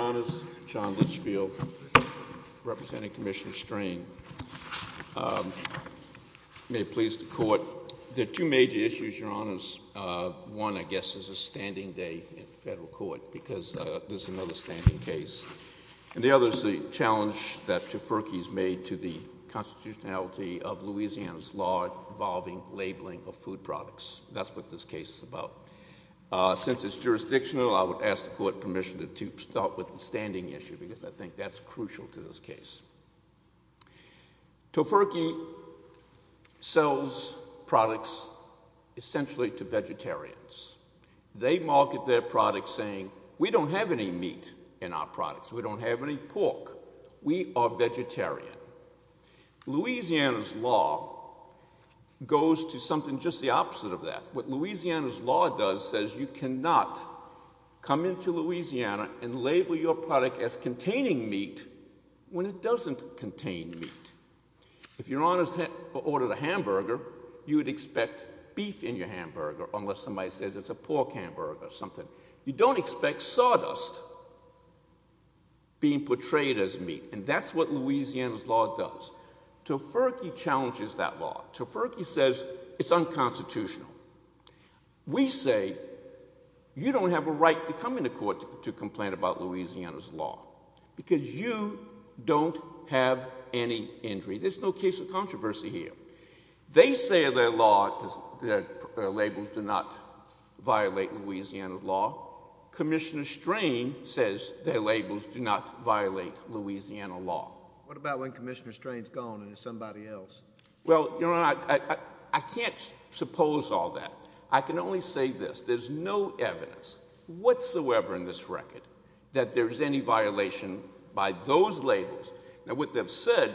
Your Honors, John Litchfield, representing Commissioner Strain. May it please the Court. There are two major issues, Your Honors. One, I guess, is a standing day in federal court because this is another standing case. And the other is the challenge that Tafurkey has made to the constitutionality of Louisiana's law involving labeling of food products. That's what this case is about. Since it's jurisdictional, I would ask the Court permission to start with the standing issue because I think that's crucial to this case. Tafurkey sells products essentially to vegetarians. They market their products saying, we don't have any meat in our products. We don't have any pork. We are vegetarian. Louisiana's law goes to something just the opposite of that. What Louisiana's law does is it says you cannot come into Louisiana and label your product as containing meat when it doesn't contain meat. If Your Honors ordered a hamburger, you would expect beef in your hamburger unless somebody says it's a pork hamburger or something. You don't expect sawdust being portrayed as meat, and that's what Louisiana's law does. Tafurkey challenges that law. Tafurkey says it's unconstitutional. We say you don't have a right to come into court to complain about Louisiana's law because you don't have any injury. There's no case of controversy here. They say their law, their labels do not violate Louisiana's law. Commissioner Strain says their labels do not violate Louisiana law. What about when Commissioner Strain's gone and it's somebody else? Well, Your Honor, I can't suppose all that. I can only say this. There's no evidence whatsoever in this record that there's any violation by those labels. Now, what they've said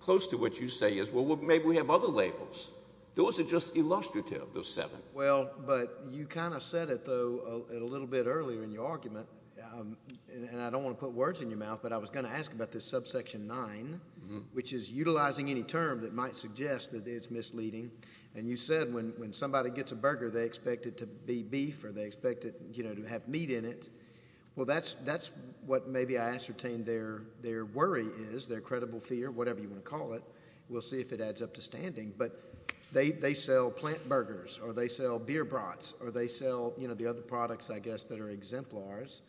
close to what you say is, well, maybe we have other labels. Those are just illustrative, those seven. Well, but you kind of said it, though, a little bit earlier in your argument, and I don't want to put words in your mouth, but I was going to ask about this subsection 9, which is utilizing any term that might suggest that it's misleading. And you said when somebody gets a burger, they expect it to be beef or they expect it to have meat in it. Well, that's what maybe I ascertained their worry is, their credible fear, whatever you want to call it. We'll see if it adds up to standing. But they sell plant burgers, or they sell beer brats, or they sell the other products, I guess, that are exemplars.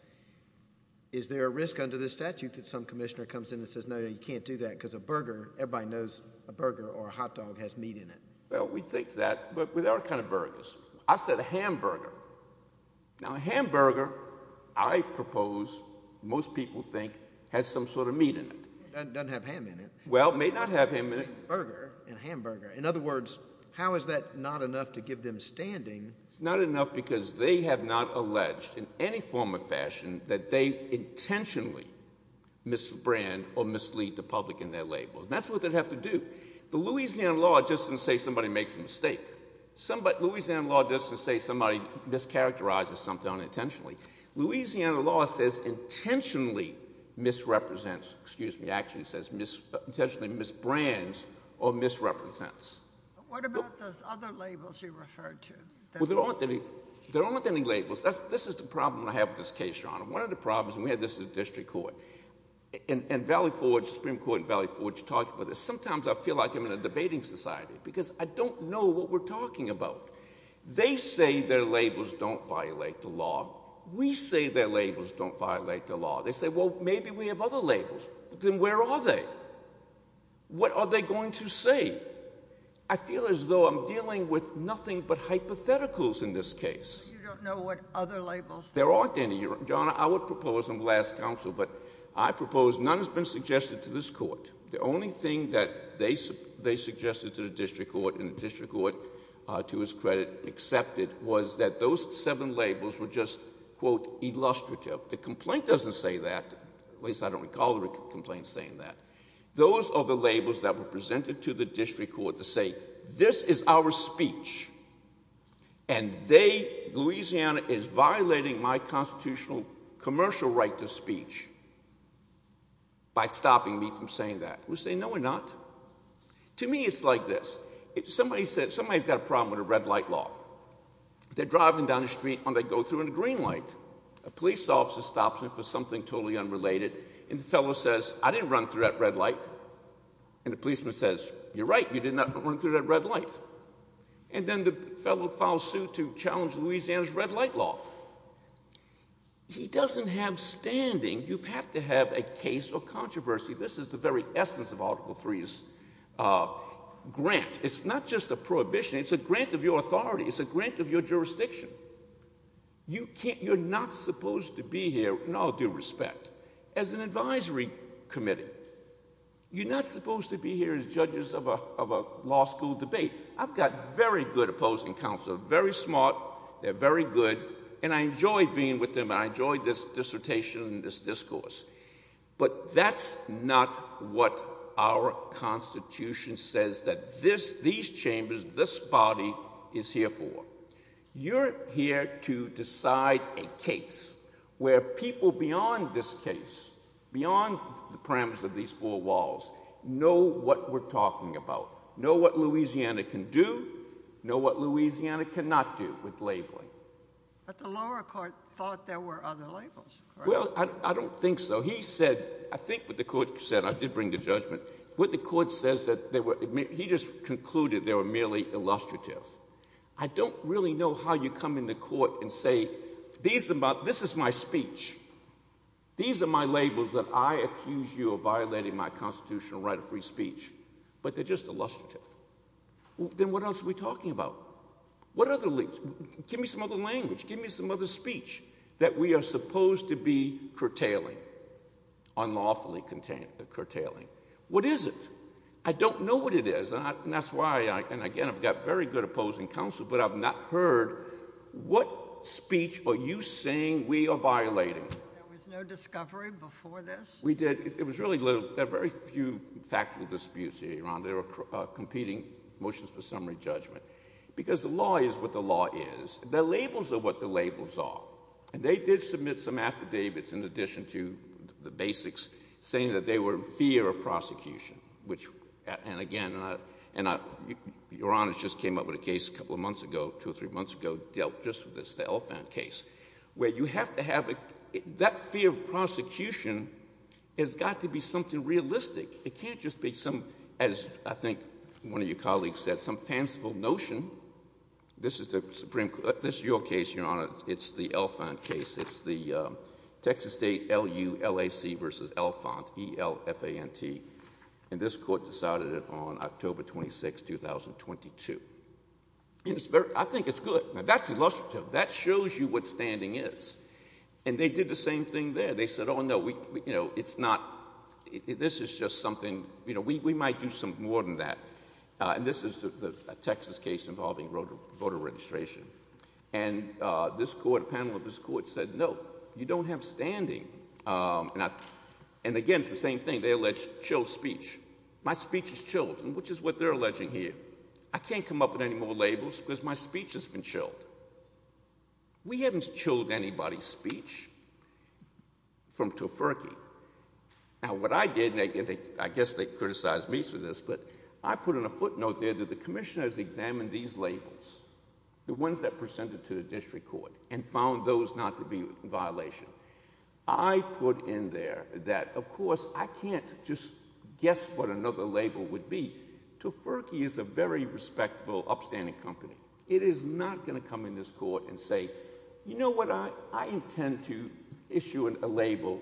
Is there a risk under this statute that some commissioner comes in and says, no, you can't do that, because a burger, everybody knows a burger or a hot dog has meat in it? Well, we think that, but with our kind of burgers. I said a hamburger. Now, a hamburger, I propose, most people think, has some sort of meat in it. Doesn't have ham in it. Well, it may not have ham in it. In other words, how is that not enough to give them standing? It's not enough because they have not alleged in any form or fashion that they intentionally misbrand or mislead the public in their labels. And that's what they'd have to do. The Louisiana law doesn't say somebody makes a mistake. Louisiana law doesn't say somebody mischaracterizes something unintentionally. Louisiana law says intentionally misrepresents, excuse me, actually says intentionally misbrands or misrepresents. What about those other labels you referred to? Well, there aren't any labels. This is the problem I have with this case, Your Honor. One of the problems, and we had this at the district court, and Valley Forge, Supreme Court in Valley Forge, talked about this. Sometimes I feel like I'm in a debating society because I don't know what we're talking about. They say their labels don't violate the law. We say their labels don't violate the law. They say, well, maybe we have other labels. Then where are they? What are they going to say? I feel as though I'm dealing with nothing but hypotheticals in this case. You don't know what other labels there are. There aren't any. Your Honor, I would propose in the last counsel, but I propose none has been suggested to this court. The only thing that they suggested to the district court and the district court, to his credit, accepted was that those seven labels were just, quote, illustrative. The complaint doesn't say that. At least I don't recall the complaint saying that. Those are the labels that were presented to the district court to say this is our speech, and they, Louisiana, is violating my constitutional commercial right to speech by stopping me from saying that. We say no we're not. To me it's like this. Somebody's got a problem with a red light law. They're driving down the street, and they go through in a green light. A police officer stops them for something totally unrelated, and the fellow says, I didn't run through that red light. And the policeman says, you're right, you did not run through that red light. And then the fellow filed suit to challenge Louisiana's red light law. He doesn't have standing. You have to have a case or controversy. This is the very essence of Article III's grant. It's not just a prohibition. It's a grant of your authority. It's a grant of your jurisdiction. You're not supposed to be here, in all due respect, as an advisory committee. You're not supposed to be here as judges of a law school debate. I've got very good opposing counsel, very smart. They're very good, and I enjoy being with them, and I enjoy this dissertation and this discourse. But that's not what our Constitution says that this, these chambers, this body is here for. You're here to decide a case where people beyond this case, beyond the parameters of these four walls, know what we're talking about, know what Louisiana can do, know what Louisiana cannot do with labeling. But the lower court thought there were other labels. Well, I don't think so. He said, I think what the court said, I did bring to judgment, what the court says that they were—he just concluded they were merely illustrative. I don't really know how you come in the court and say these are my—this is my speech. These are my labels that I accuse you of violating my constitutional right of free speech, but they're just illustrative. Then what else are we talking about? What other—give me some other language. Give me some other speech that we are supposed to be curtailing, unlawfully curtailing. What is it? I don't know what it is, and that's why—and again, I've got very good opposing counsel, but I've not heard what speech are you saying we are violating? There was no discovery before this? We did—it was really—there are very few factual disputes here, Your Honor. They were competing motions for summary judgment because the law is what the law is. The labels are what the labels are, and they did submit some affidavits in addition to the basics, saying that they were in fear of prosecution, which— and again, Your Honor just came up with a case a couple of months ago, two or three months ago, dealt just with this Elephant case, where you have to have— that fear of prosecution has got to be something realistic. It can't just be some—as I think one of your colleagues said, some fanciful notion. This is the Supreme Court—this is your case, Your Honor. It's the Elephant case. It's the Texas State LULAC v. Elephant, E-L-F-A-N-T, and this Court decided it on October 26, 2022. I think it's good. That's illustrative. That shows you what standing is. And they did the same thing there. They said, oh, no, it's not—this is just something—we might do some more than that. And this is a Texas case involving voter registration. And this Court—a panel of this Court said, no, you don't have standing. And again, it's the same thing. They allege chilled speech. My speech is chilled, which is what they're alleging here. I can't come up with any more labels because my speech has been chilled. We haven't chilled anybody's speech. From Tofurky. Now, what I did—and I guess they criticized me for this, but I put in a footnote there that the commissioners examined these labels, the ones that presented to the district court, and found those not to be in violation. I put in there that, of course, I can't just guess what another label would be. Tofurky is a very respectful, upstanding company. It is not going to come in this Court and say, you know what, I intend to issue a label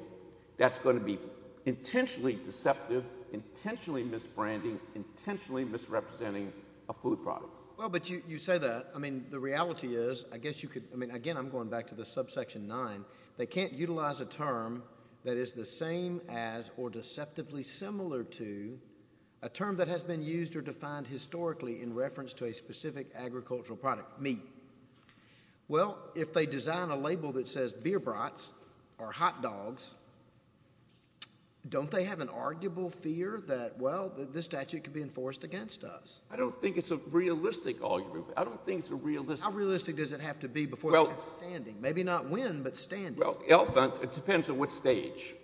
that's going to be intentionally deceptive, intentionally misbranding, intentionally misrepresenting a food product. Well, but you say that. I mean, the reality is, I guess you could—I mean, again, I'm going back to the subsection 9. They can't utilize a term that is the same as or deceptively similar to a term that has been used or defined historically in reference to a specific agricultural product, meat. Well, if they design a label that says beer brats or hot dogs, don't they have an arguable fear that, well, this statute could be enforced against us? I don't think it's a realistic argument. I don't think it's a realistic— How realistic does it have to be before they're standing? Maybe not win, but standing. Well, it depends on what stage.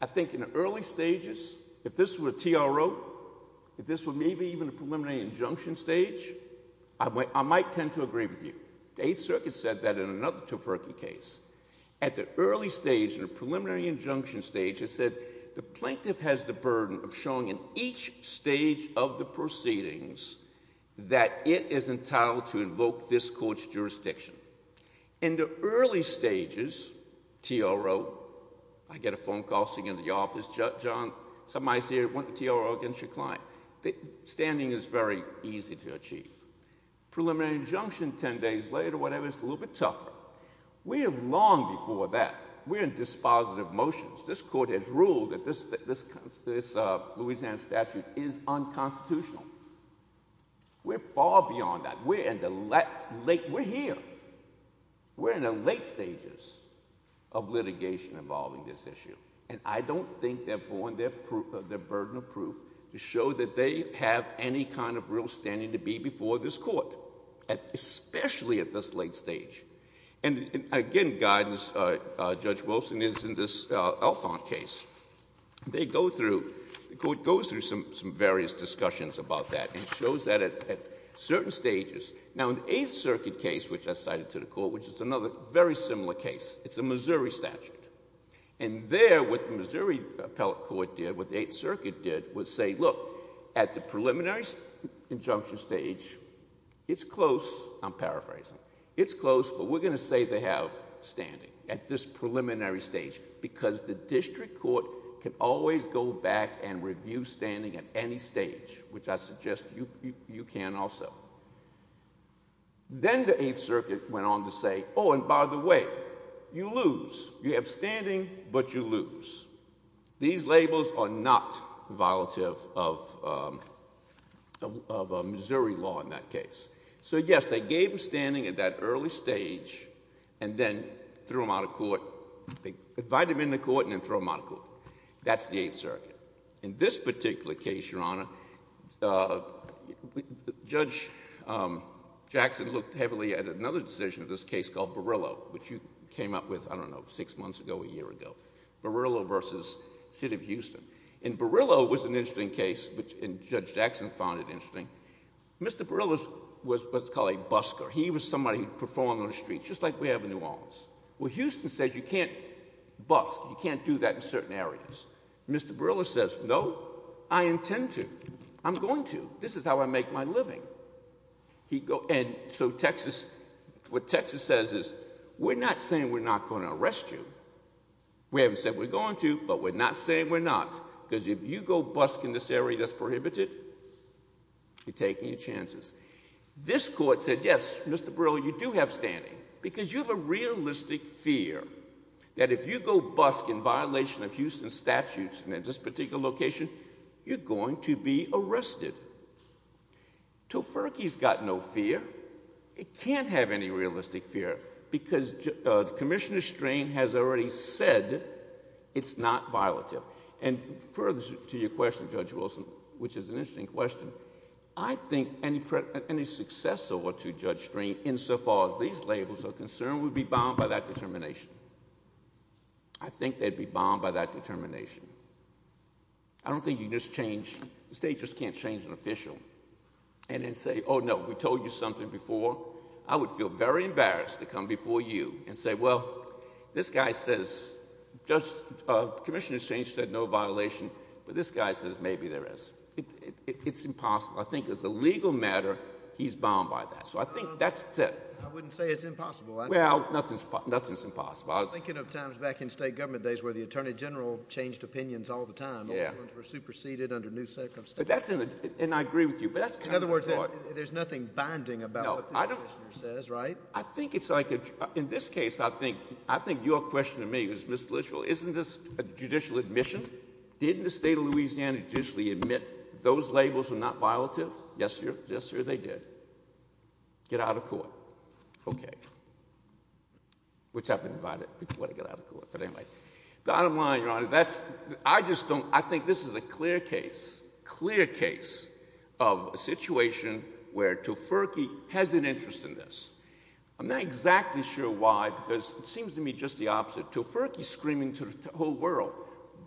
I think in the early stages, if this were a TRO, if this were maybe even a preliminary injunction stage, I might tend to agree with you. The Eighth Circuit said that in another Tafurkey case. At the early stage, in the preliminary injunction stage, it said, the plaintiff has the burden of showing in each stage of the proceedings that it is entitled to invoke this Court's jurisdiction. In the early stages, TRO, I get a phone call sitting in the office, John, somebody's here, TRO against your client. Standing is very easy to achieve. Preliminary injunction 10 days later, whatever, it's a little bit tougher. We are long before that. We're in dispositive motions. This Court has ruled that this Louisiana statute is unconstitutional. We're far beyond that. We're here. We're in the late stages of litigation involving this issue. And I don't think they're borne their burden of proof to show that they have any kind of real standing to be before this Court, especially at this late stage. And again, guidance, Judge Wilson is in this Alfond case. They go through, the Court goes through some various discussions about that and shows that at certain stages. Now, in the Eighth Circuit case, which I cited to the Court, which is another very similar case, it's a Missouri statute. And there, what the Missouri Appellate Court did, what the Eighth Circuit did, was say, look, at the preliminary injunction stage, it's close. I'm paraphrasing. It's close, but we're going to say they have standing at this preliminary stage because the district court can always go back and review standing at any stage, which I suggest you can also. Then the Eighth Circuit went on to say, oh, and by the way, you lose. You have standing, but you lose. These labels are not violative of Missouri law in that case. So, yes, they gave them standing at that early stage and then threw them out of court. They invited them into court and then threw them out of court. That's the Eighth Circuit. In this particular case, Your Honor, Judge Jackson looked heavily at another decision of this case called Barillo, which you came up with, I don't know, six months ago or a year ago. Barillo v. City of Houston. And Barillo was an interesting case, and Judge Jackson found it interesting. Mr. Barillo was what's called a busker. He was somebody who performed on the streets, just like we have in New Orleans. Well, Houston says you can't busk. You can't do that in certain areas. Mr. Barillo says, no, I intend to. I'm going to. This is how I make my living. And so Texas, what Texas says is we're not saying we're not going to arrest you. We haven't said we're going to, but we're not saying we're not. Because if you go busk in this area that's prohibited, you're taking your chances. This court said, yes, Mr. Barillo, you do have standing because you have a realistic fear that if you go busk in violation of Houston's statutes in this particular location, you're going to be arrested. Tofurkey's got no fear. It can't have any realistic fear because Commissioner Strain has already said it's not violative. And further to your question, Judge Wilson, which is an interesting question, I think any successor to Judge Strain, insofar as these labels are concerned, would be bound by that determination. I think they'd be bound by that determination. I don't think you can just change. The state just can't change an official and then say, oh, no, we told you something before. I would feel very embarrassed to come before you and say, well, this guy says, Commissioner Strain said no violation, but this guy says maybe there is. It's impossible. I think as a legal matter, he's bound by that. So I think that's it. I wouldn't say it's impossible. Well, nothing's impossible. I'm thinking of times back in state government days where the Attorney General changed opinions all the time. All of them were superseded under new circumstances. And I agree with you. In other words, there's nothing binding about what this Commissioner says, right? In this case, I think your question to me is, Mr. Littrell, isn't this a judicial admission? Didn't the state of Louisiana judicially admit those labels were not violative? Yes, sir. Yes, sir, they did. Get out of court. Okay. Which I've been invited to get out of court. But anyway, bottom line, Your Honor, that's – I just don't – I think this is a clear case, clear case of a situation where Tuferke has an interest in this. I'm not exactly sure why because it seems to me just the opposite. Tuferke is screaming to the whole world,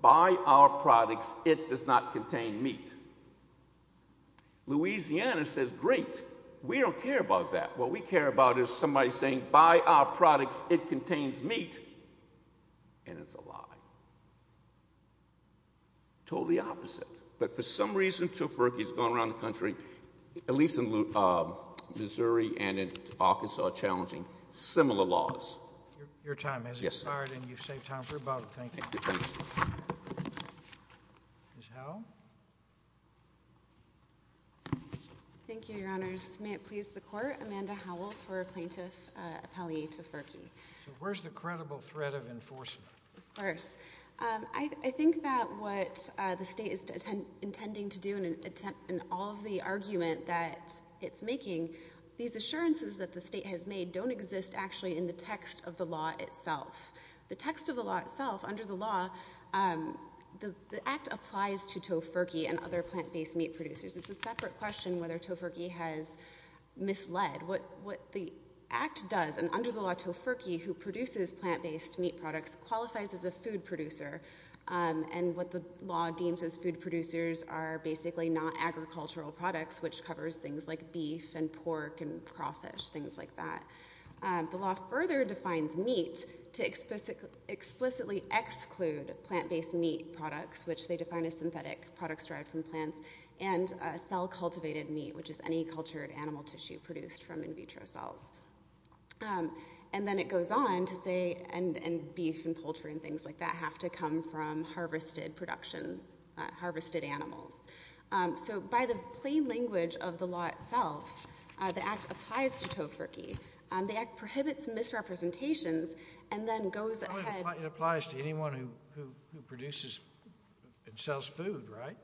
buy our products. It does not contain meat. Louisiana says, great. We don't care about that. What we care about is somebody saying, buy our products. It contains meat. And it's a lie. Totally opposite. But for some reason Tuferke has gone around the country, at least in Missouri and in Arkansas, challenging similar laws. Your time has expired, and you've saved time for a bottle. Thank you. Ms. Howell? Thank you, Your Honors. May it please the Court, Amanda Howell for Plaintiff Appellee Tuferke. Where's the credible threat of enforcement? Of course. I think that what the state is intending to do in all of the argument that it's making, these assurances that the state has made don't exist actually in the text of the law itself. The text of the law itself, under the law, the act applies to Tuferke and other plant-based meat producers. It's a separate question whether Tuferke has misled. What the act does, and under the law Tuferke, who produces plant-based meat products, qualifies as a food producer. And what the law deems as food producers are basically not agricultural products, which covers things like beef and pork and crawfish, things like that. The law further defines meat to explicitly exclude plant-based meat products, which they define as synthetic products derived from plants, and cell-cultivated meat, which is any cultured animal tissue produced from in vitro cells. And then it goes on to say beef and poultry and things like that have to come from harvested production, harvested animals. So by the plain language of the law itself, the act applies to Tuferke. The act prohibits misrepresentations and then goes ahead. It applies to anyone who produces and sells food, right?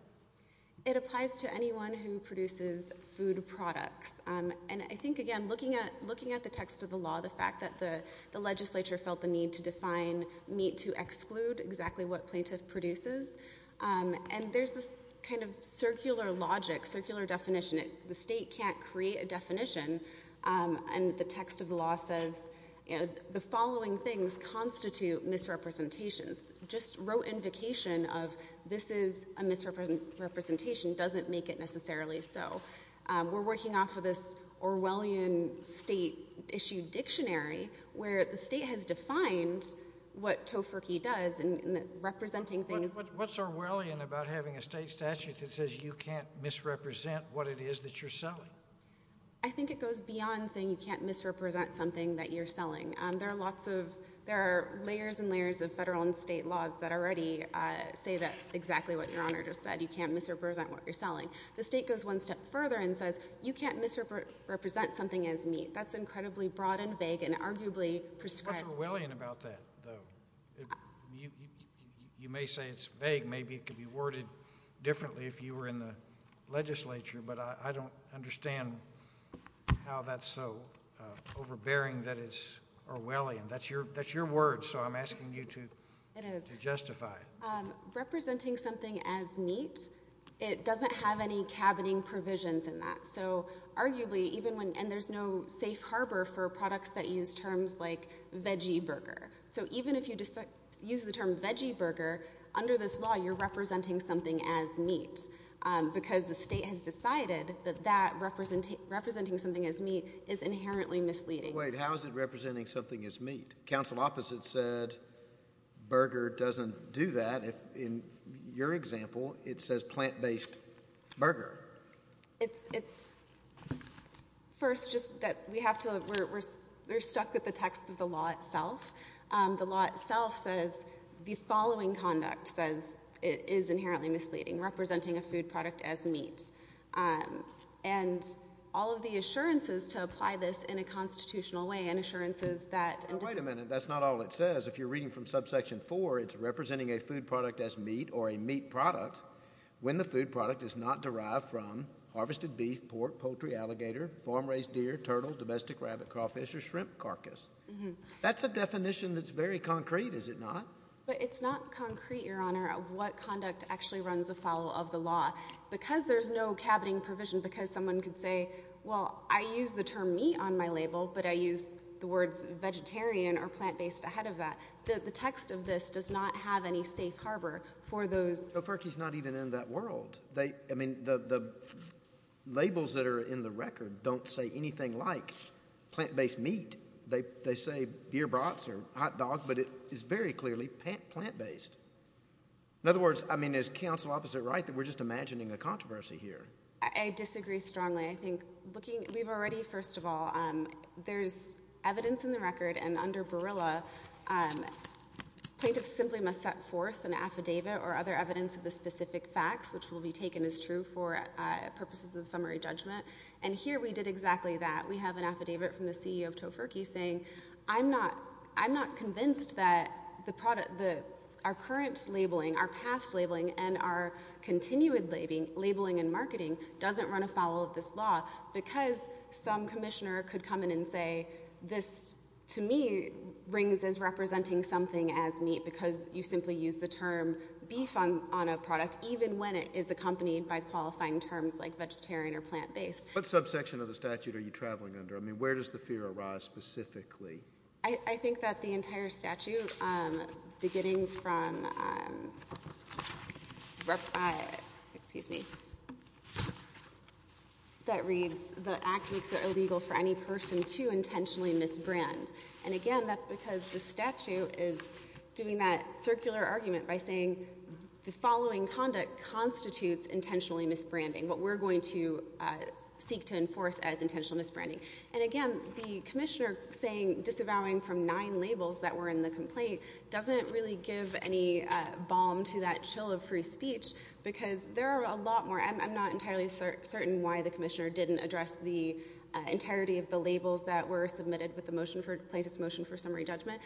It applies to anyone who produces food products. And I think, again, looking at the text of the law, the fact that the legislature felt the need to define meat to exclude exactly what plaintiff produces, and there's this kind of circular logic, circular definition. The state can't create a definition, and the text of the law says the following things constitute misrepresentations. Just rote invocation of this is a misrepresentation doesn't make it necessarily so. We're working off of this Orwellian state-issued dictionary where the state has defined what Tuferke does in representing things. What's Orwellian about having a state statute that says you can't misrepresent what it is that you're selling? I think it goes beyond saying you can't misrepresent something that you're selling. There are layers and layers of federal and state laws that already say exactly what Your Honor just said. You can't misrepresent what you're selling. The state goes one step further and says you can't misrepresent something as meat. That's incredibly broad and vague and arguably prescribed. What's Orwellian about that, though? You may say it's vague. Maybe it could be worded differently if you were in the legislature, but I don't understand how that's so overbearing that it's Orwellian. That's your word, so I'm asking you to justify it. Representing something as meat, it doesn't have any cabining provisions in that. Arguably, and there's no safe harbor for products that use terms like veggie burger. So even if you use the term veggie burger, under this law you're representing something as meat because the state has decided that representing something as meat is inherently misleading. Council opposite said burger doesn't do that. In your example, it says plant-based burger. First, we're stuck with the text of the law itself. The law itself says the following conduct is inherently misleading, representing a food product as meat. And all of the assurances to apply this in a constitutional way and assurances that Wait a minute, that's not all it says. If you're reading from subsection 4, it's representing a food product as meat or a meat product when the food product is not derived from harvested beef, pork, poultry, alligator, farm-raised deer, turtle, domestic rabbit, crawfish, or shrimp carcass. That's a definition that's very concrete, is it not? But it's not concrete, Your Honor, what conduct actually runs afoul of the law. Because there's no cabining provision, because someone could say, Well, I use the term meat on my label, but I use the words vegetarian or plant-based ahead of that. The text of this does not have any safe harbor for those But FERC is not even in that world. The labels that are in the record don't say anything like plant-based meat. They say beer brats or hot dogs, but it is very clearly plant-based. In other words, is counsel opposite right that we're just imagining a controversy here? I disagree strongly. We've already, first of all, there's evidence in the record, and under Berilla, plaintiffs simply must set forth an affidavit or other evidence of the specific facts, which will be taken as true for purposes of summary judgment. And here we did exactly that. We have an affidavit from the CEO of Tofurky saying, I'm not convinced that our current labeling, our past labeling, and our continued labeling and marketing doesn't run afoul of this law. Because some commissioner could come in and say, This, to me, rings as representing something as meat, because you simply use the term beef on a product, even when it is accompanied by qualifying terms like vegetarian or plant-based. What subsection of the statute are you traveling under? I mean, where does the fear arise specifically? I think that the entire statute, beginning from, excuse me, that reads the act makes it illegal for any person to intentionally misbrand. And, again, that's because the statute is doing that circular argument by saying the following conduct constitutes intentionally misbranding, but we're going to seek to enforce as intentional misbranding. And, again, the commissioner saying disavowing from nine labels that were in the complaint doesn't really give any balm to that chill of free speech, because there are a lot more. I'm not entirely certain why the commissioner didn't address the entirety of the labels that were submitted with the motion for plaintiff's motion for summary judgment,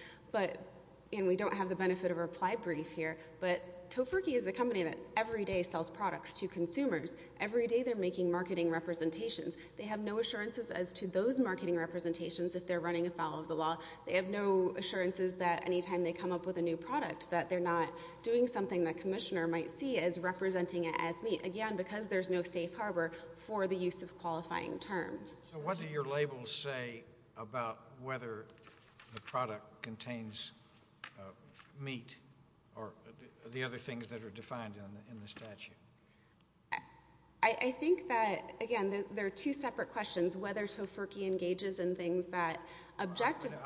and we don't have the benefit of a reply brief here, but Tofurky is a company that every day sells products to consumers, every day they're making marketing representations. They have no assurances as to those marketing representations if they're running afoul of the law. They have no assurances that any time they come up with a new product that they're not doing something the commissioner might see as representing it as meat, again, because there's no safe harbor for the use of qualifying terms. So what do your labels say about whether the product contains meat or the other things that are defined in the statute? I think that, again, there are two separate questions, whether Tofurky engages in things that objectively.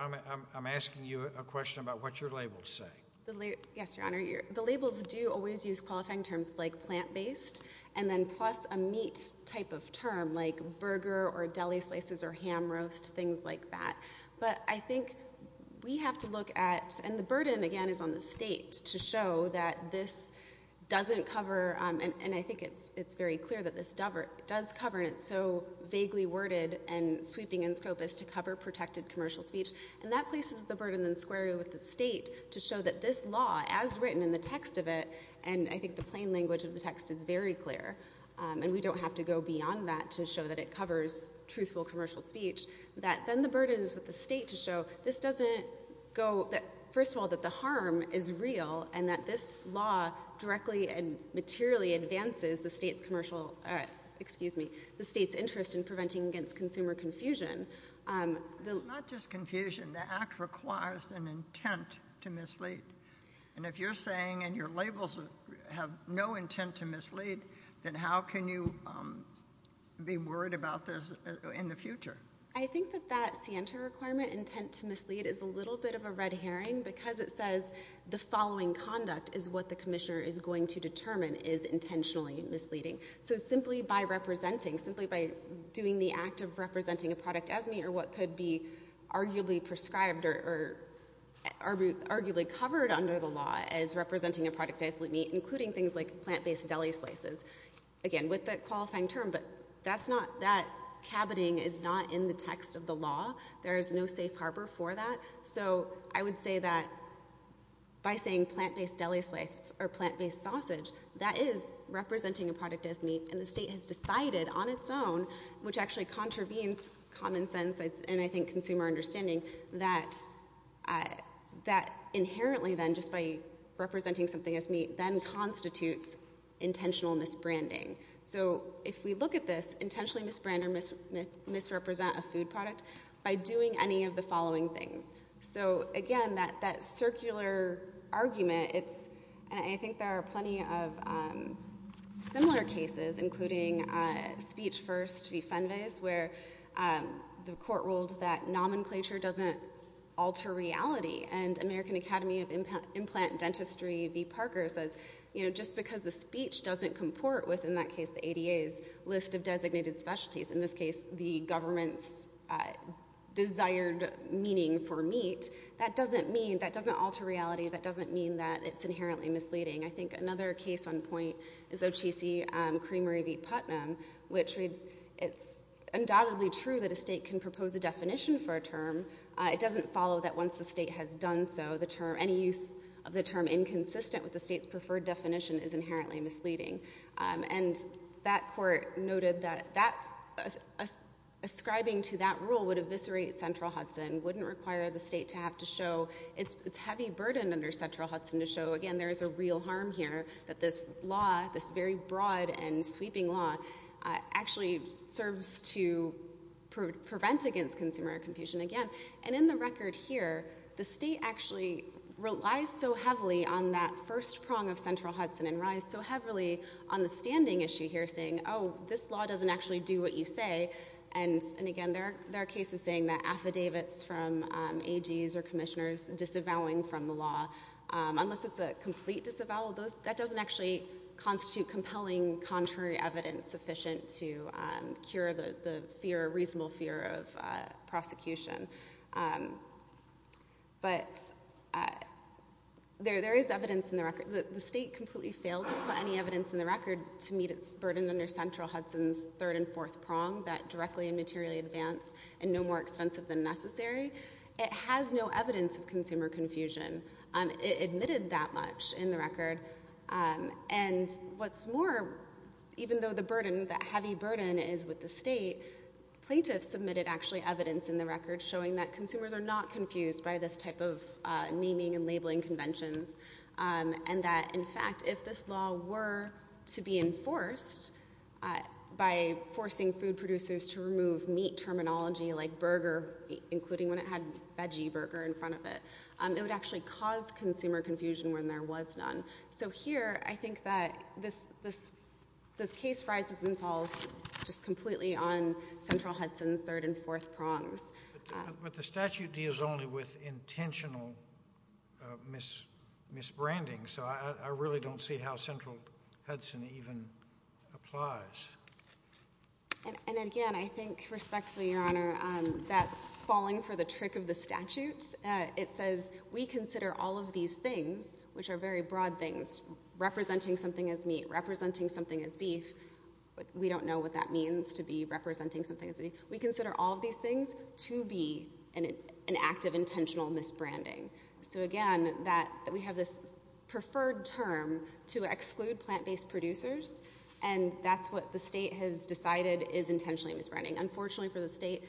I'm asking you a question about what your labels say. Yes, Your Honor. The labels do always use qualifying terms like plant-based and then plus a meat type of term like burger or deli slices or ham roast, things like that. But I think we have to look at, and the burden, again, is on the state to show that this doesn't cover, and I think it's very clear that this does cover, and it's so vaguely worded and sweeping in scope, is to cover protected commercial speech. And that places the burden then squarely with the state to show that this law, as written in the text of it, and I think the plain language of the text is very clear, and we don't have to go beyond that to show that it covers truthful commercial speech, that then the burden is with the state to show this doesn't go, first of all, that the harm is real and that this law directly and materially advances the state's commercial, excuse me, the state's interest in preventing against consumer confusion. It's not just confusion. The Act requires an intent to mislead. And if you're saying and your labels have no intent to mislead, then how can you be worried about this in the future? I think that that SIENTA requirement, intent to mislead, is a little bit of a red herring because it says the following conduct is what the commissioner is going to determine is intentionally misleading. So simply by representing, simply by doing the act of representing a product as meat or what could be arguably prescribed or arguably covered under the law as representing a product as meat, including things like plant-based deli slices, again, with the qualifying term, but that's not, that cabining is not in the text of the law. There is no safe harbor for that. So I would say that by saying plant-based deli slices or plant-based sausage, that is representing a product as meat, and the state has decided on its own, which actually contravenes common sense and I think consumer understanding, that inherently then just by representing something as meat, then constitutes intentional misbranding. So if we look at this, intentionally misbrand or misrepresent a food product by doing any of the following things. So again, that circular argument, and I think there are plenty of similar cases, including Speech First v. Fenves, where the court ruled that nomenclature doesn't alter reality and American Academy of Implant Dentistry v. Parker says, you know, just because the speech doesn't comport with, in that case, the ADA's list of designated specialties, in this case the government's desired meaning for meat, that doesn't mean, that doesn't alter reality, that doesn't mean that it's inherently misleading. I think another case on point is O.C.C. Creamery v. Putnam, which reads, it's undoubtedly true that a state can propose a definition for a term. It doesn't follow that once the state has done so, any use of the term inconsistent with the state's preferred definition is inherently misleading. And that court noted that ascribing to that rule would eviscerate Central Hudson, wouldn't require the state to have to show its heavy burden under Central Hudson to show, again, there is a real harm here, that this law, this very broad and sweeping law, actually serves to prevent against consumer confusion. Again, and in the record here, the state actually relies so heavily on that first prong of Central Hudson and relies so heavily on the standing issue here, saying, oh, this law doesn't actually do what you say. And again, there are cases saying that affidavits from AGs or commissioners disavowing from the law, unless it's a complete disavowal, that doesn't actually constitute compelling contrary evidence sufficient to cure the reasonable fear of prosecution. But there is evidence in the record. The state completely failed to put any evidence in the record to meet its burden under Central Hudson's third and fourth prong, that directly and materially advance and no more extensive than necessary. It has no evidence of consumer confusion. It admitted that much in the record. And what's more, even though the burden, that heavy burden is with the state, plaintiffs submitted actually evidence in the record showing that consumers are not confused by this type of naming and labeling conventions and that, in fact, if this law were to be enforced by forcing food producers to remove meat terminology like burger, including when it had veggie burger in front of it, it would actually cause consumer confusion when there was none. So here I think that this case rises and falls just completely on Central Hudson's third and fourth prongs. But the statute deals only with intentional misbranding, so I really don't see how Central Hudson even applies. And again, I think respectfully, Your Honor, that's falling for the trick of the statute. It says we consider all of these things, which are very broad things, representing something as meat, representing something as beef. We don't know what that means to be representing something as beef. We consider all of these things to be an act of intentional misbranding. So again, we have this preferred term to exclude plant-based producers, and that's what the state has decided is intentionally misbranding. Unfortunately for the state,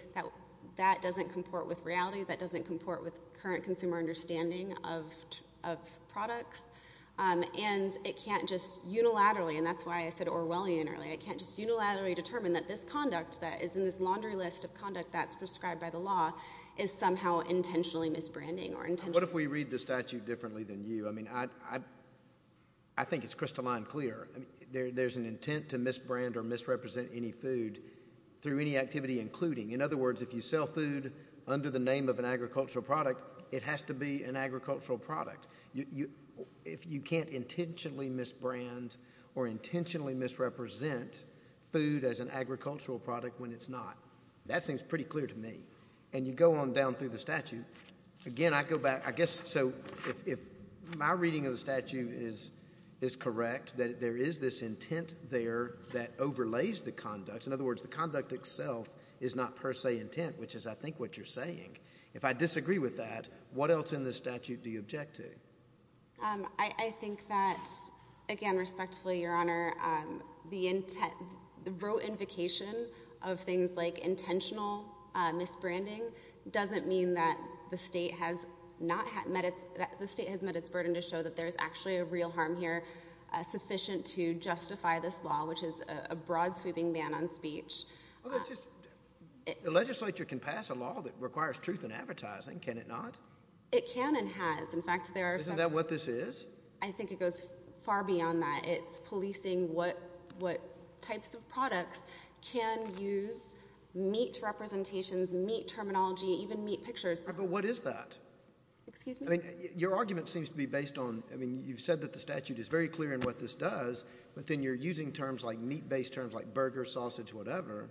that doesn't comport with reality. That doesn't comport with current consumer understanding of products. And it can't just unilaterally, and that's why I said Orwellian earlier, it can't just unilaterally determine that this conduct that is in this laundry list of conduct that's prescribed by the law is somehow intentionally misbranding. What if we read the statute differently than you? I mean, I think it's crystalline clear. There's an intent to misbrand or misrepresent any food through any activity including. In other words, if you sell food under the name of an agricultural product, it has to be an agricultural product. If you can't intentionally misbrand or intentionally misrepresent food as an agricultural product when it's not, that seems pretty clear to me. And you go on down through the statute. Again, I go back. I guess so if my reading of the statute is correct, that there is this intent there that overlays the conduct. In other words, the conduct itself is not per se intent, which is I think what you're saying. If I disagree with that, what else in the statute do you object to? I think that, again, respectfully, Your Honor, the raw invocation of things like intentional misbranding doesn't mean that the state has met its burden to show that there's actually a real harm here sufficient to justify this law, which is a broad-sweeping ban on speech. The legislature can pass a law that requires truth in advertising, can it not? It can and has. Isn't that what this is? I think it goes far beyond that. It's policing what types of products can use meat representations, meat terminology, even meat pictures. But what is that? Excuse me? Your argument seems to be based on you've said that the statute is very clear in what this does, but then you're using terms like meat-based terms, like burger, sausage, whatever.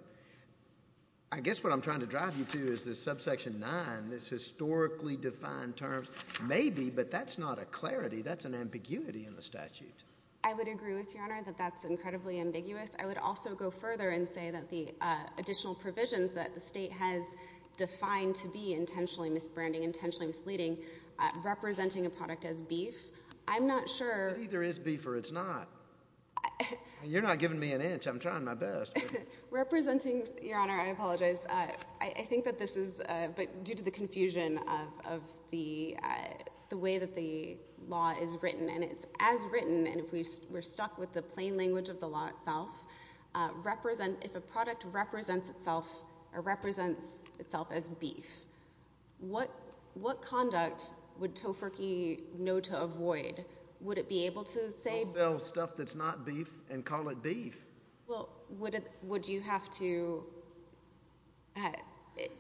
I guess what I'm trying to drive you to is this subsection 9, this historically defined terms. Maybe, but that's not a clarity. That's an ambiguity in the statute. I would agree with you, Your Honor, that that's incredibly ambiguous. I would also go further and say that the additional provisions that the state has defined to be intentionally misbranding, intentionally misleading, representing a product as beef, I'm not sure. It either is beef or it's not. You're not giving me an inch. I'm trying my best. Representing, Your Honor, I apologize. I think that this is due to the confusion of the way that the law is written. And it's as written, and we're stuck with the plain language of the law itself, if a product represents itself or represents itself as beef, what conduct would Tofurky know to avoid? Would it be able to say beef? We'll sell stuff that's not beef and call it beef. Well, would you have to?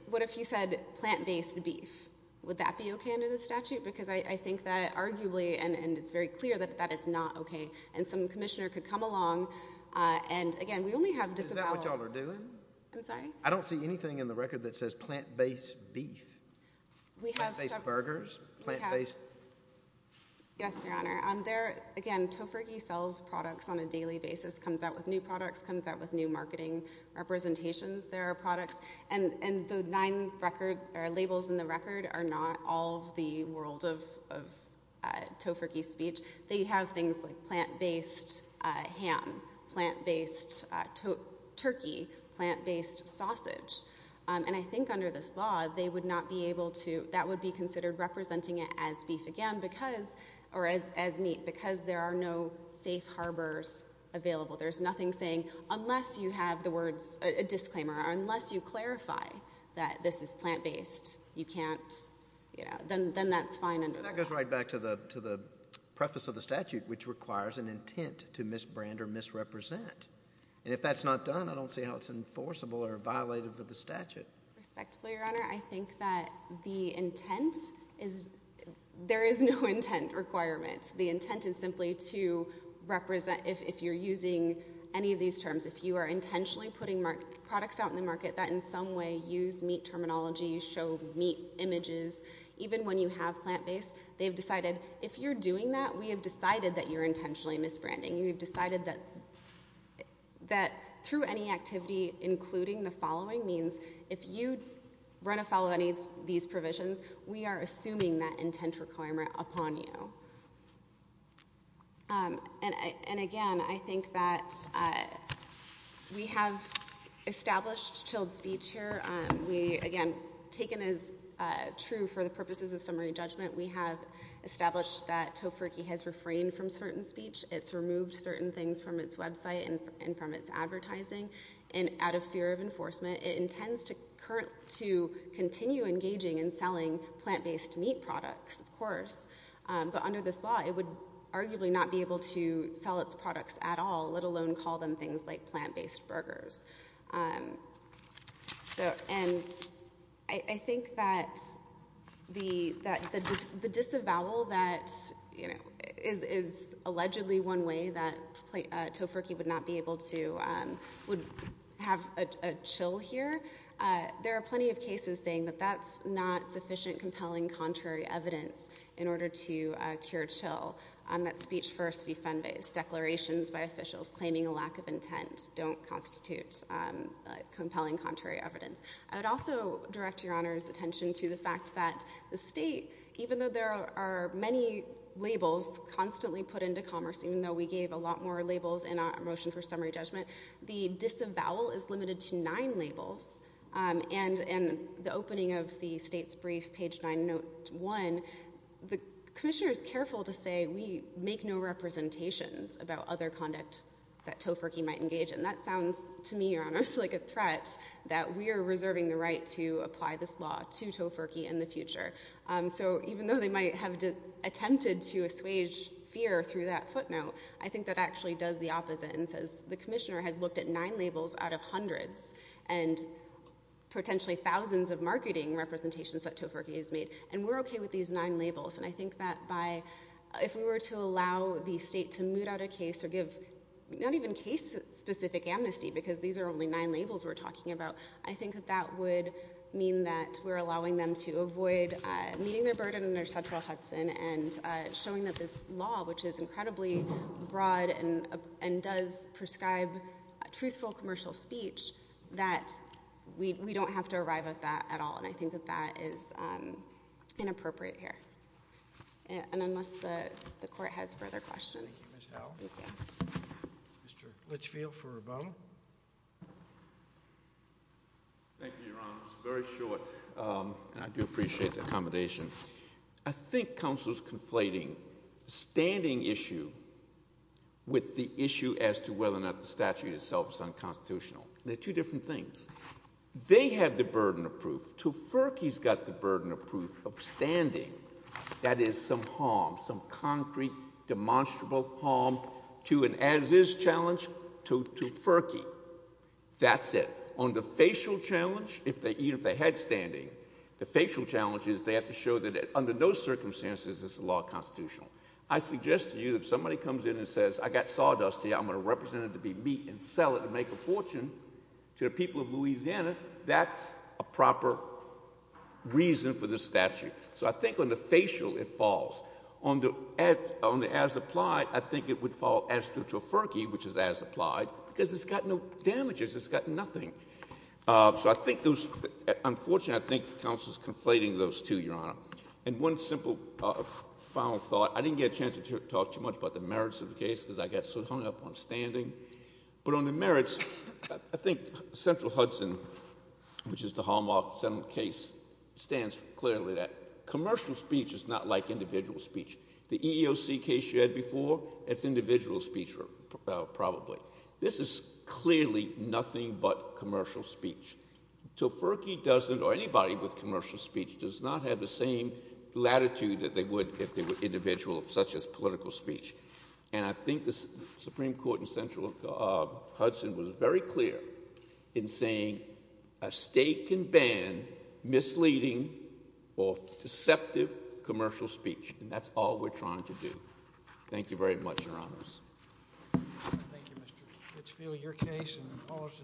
What if you said plant-based beef? Would that be okay under the statute? Because I think that arguably, and it's very clear that that is not okay. And some commissioner could come along. And, again, we only have disavowal. Is that what you all are doing? I'm sorry? I don't see anything in the record that says plant-based beef. Plant-based burgers? Yes, Your Honor. Again, Tofurky sells products on a daily basis, comes out with new products, comes out with new marketing representations. There are products. And the nine labels in the record are not all of the world of Tofurky's speech. They have things like plant-based ham, plant-based turkey, plant-based sausage. And I think under this law, they would not be able to, that would be considered representing it as beef again because, or as meat, because there are no safe harbors available. There's nothing saying unless you have the words, a disclaimer, unless you clarify that this is plant-based, you can't, you know, then that's fine under the law. That goes right back to the preface of the statute, which requires an intent to misbrand or misrepresent. And if that's not done, I don't see how it's enforceable or violated with the statute. Respectfully, Your Honor, I think that the intent is, there is no intent requirement. The intent is simply to represent, if you're using any of these terms, if you are intentionally putting products out in the market that in some way use meat terminology, show meat images, even when you have plant-based, they've decided if you're doing that, we have decided that you're intentionally misbranding. We've decided that through any activity, including the following means, if you run afoul of any of these provisions, we are assuming that intent requirement upon you. And, again, I think that we have established chilled speech here. We, again, taken as true for the purposes of summary judgment, we have established that tofurkey has refrained from certain speech. It's removed certain things from its website and from its advertising. And out of fear of enforcement, it intends to continue engaging in selling plant-based meat products, of course. But under this law, it would arguably not be able to sell its products at all, let alone call them things like plant-based burgers. And I think that the disavowal that is allegedly one way that tofurkey would not be able to have a chill here, there are plenty of cases saying that that's not sufficient compelling contrary evidence in order to cure chill, that speech first be fund-based, declarations by officials claiming a lack of intent don't constitute compelling contrary evidence. I would also direct Your Honor's attention to the fact that the state, even though there are many labels constantly put into commerce, even though we gave a lot more labels in our motion for summary judgment, the disavowal is limited to nine labels. And in the opening of the state's brief, page 901, the commissioner is careful to say we make no representations about other conduct that tofurkey might engage in. That sounds to me, Your Honor, like a threat that we are reserving the right to apply this law to tofurkey in the future. So even though they might have attempted to assuage fear through that footnote, I think that actually does the opposite and says the commissioner has looked at nine labels out of hundreds and potentially thousands of marketing representations that tofurkey has made, and we're okay with these nine labels. And I think that if we were to allow the state to moot out a case or give not even case-specific amnesty, because these are only nine labels we're talking about, I think that that would mean that we're allowing them to avoid meeting their burden in their central Hudson and showing that this law, which is incredibly broad and does prescribe truthful commercial speech, that we don't have to arrive at that at all. And I think that that is inappropriate here. And unless the Court has further questions. Thank you, Ms. Howell. Mr. Litchfield for Rebono. Thank you, Your Honor. It's very short, and I do appreciate the accommodation. I think counsel is conflating the standing issue with the issue as to whether or not the statute itself is unconstitutional. They're two different things. They have the burden of proof. Tuferke's got the burden of proof of standing. That is some harm, some concrete, demonstrable harm to an as-is challenge to Tuferke. That's it. On the facial challenge, even if they had standing, the facial challenge is they have to show that under no circumstances this is a law constitutional. I suggest to you that if somebody comes in and says, I got sawdust here, I'm going to represent it to be meat and sell it and make a fortune to the people of Louisiana, that's a proper reason for this statute. So I think on the facial it falls. On the as-applied, I think it would fall as to Tuferke, which is as-applied, because it's got no damages. It's got nothing. So I think those, unfortunately, I think counsel is conflating those two, Your Honor. And one simple final thought. I didn't get a chance to talk too much about the merits of the case because I got so hung up on standing. But on the merits, I think central Hudson, which is the Hallmark case, stands clearly that commercial speech is not like individual speech. The EEOC case you had before, that's individual speech probably. This is clearly nothing but commercial speech. Tuferke doesn't, or anybody with commercial speech, does not have the same latitude that they would if they were individual, such as political speech. And I think the Supreme Court in central Hudson was very clear in saying a state can ban misleading or deceptive commercial speech. And that's all we're trying to do. Thank you very much, Your Honors. Thank you, Mr. Fitzfield. Your case and the policy.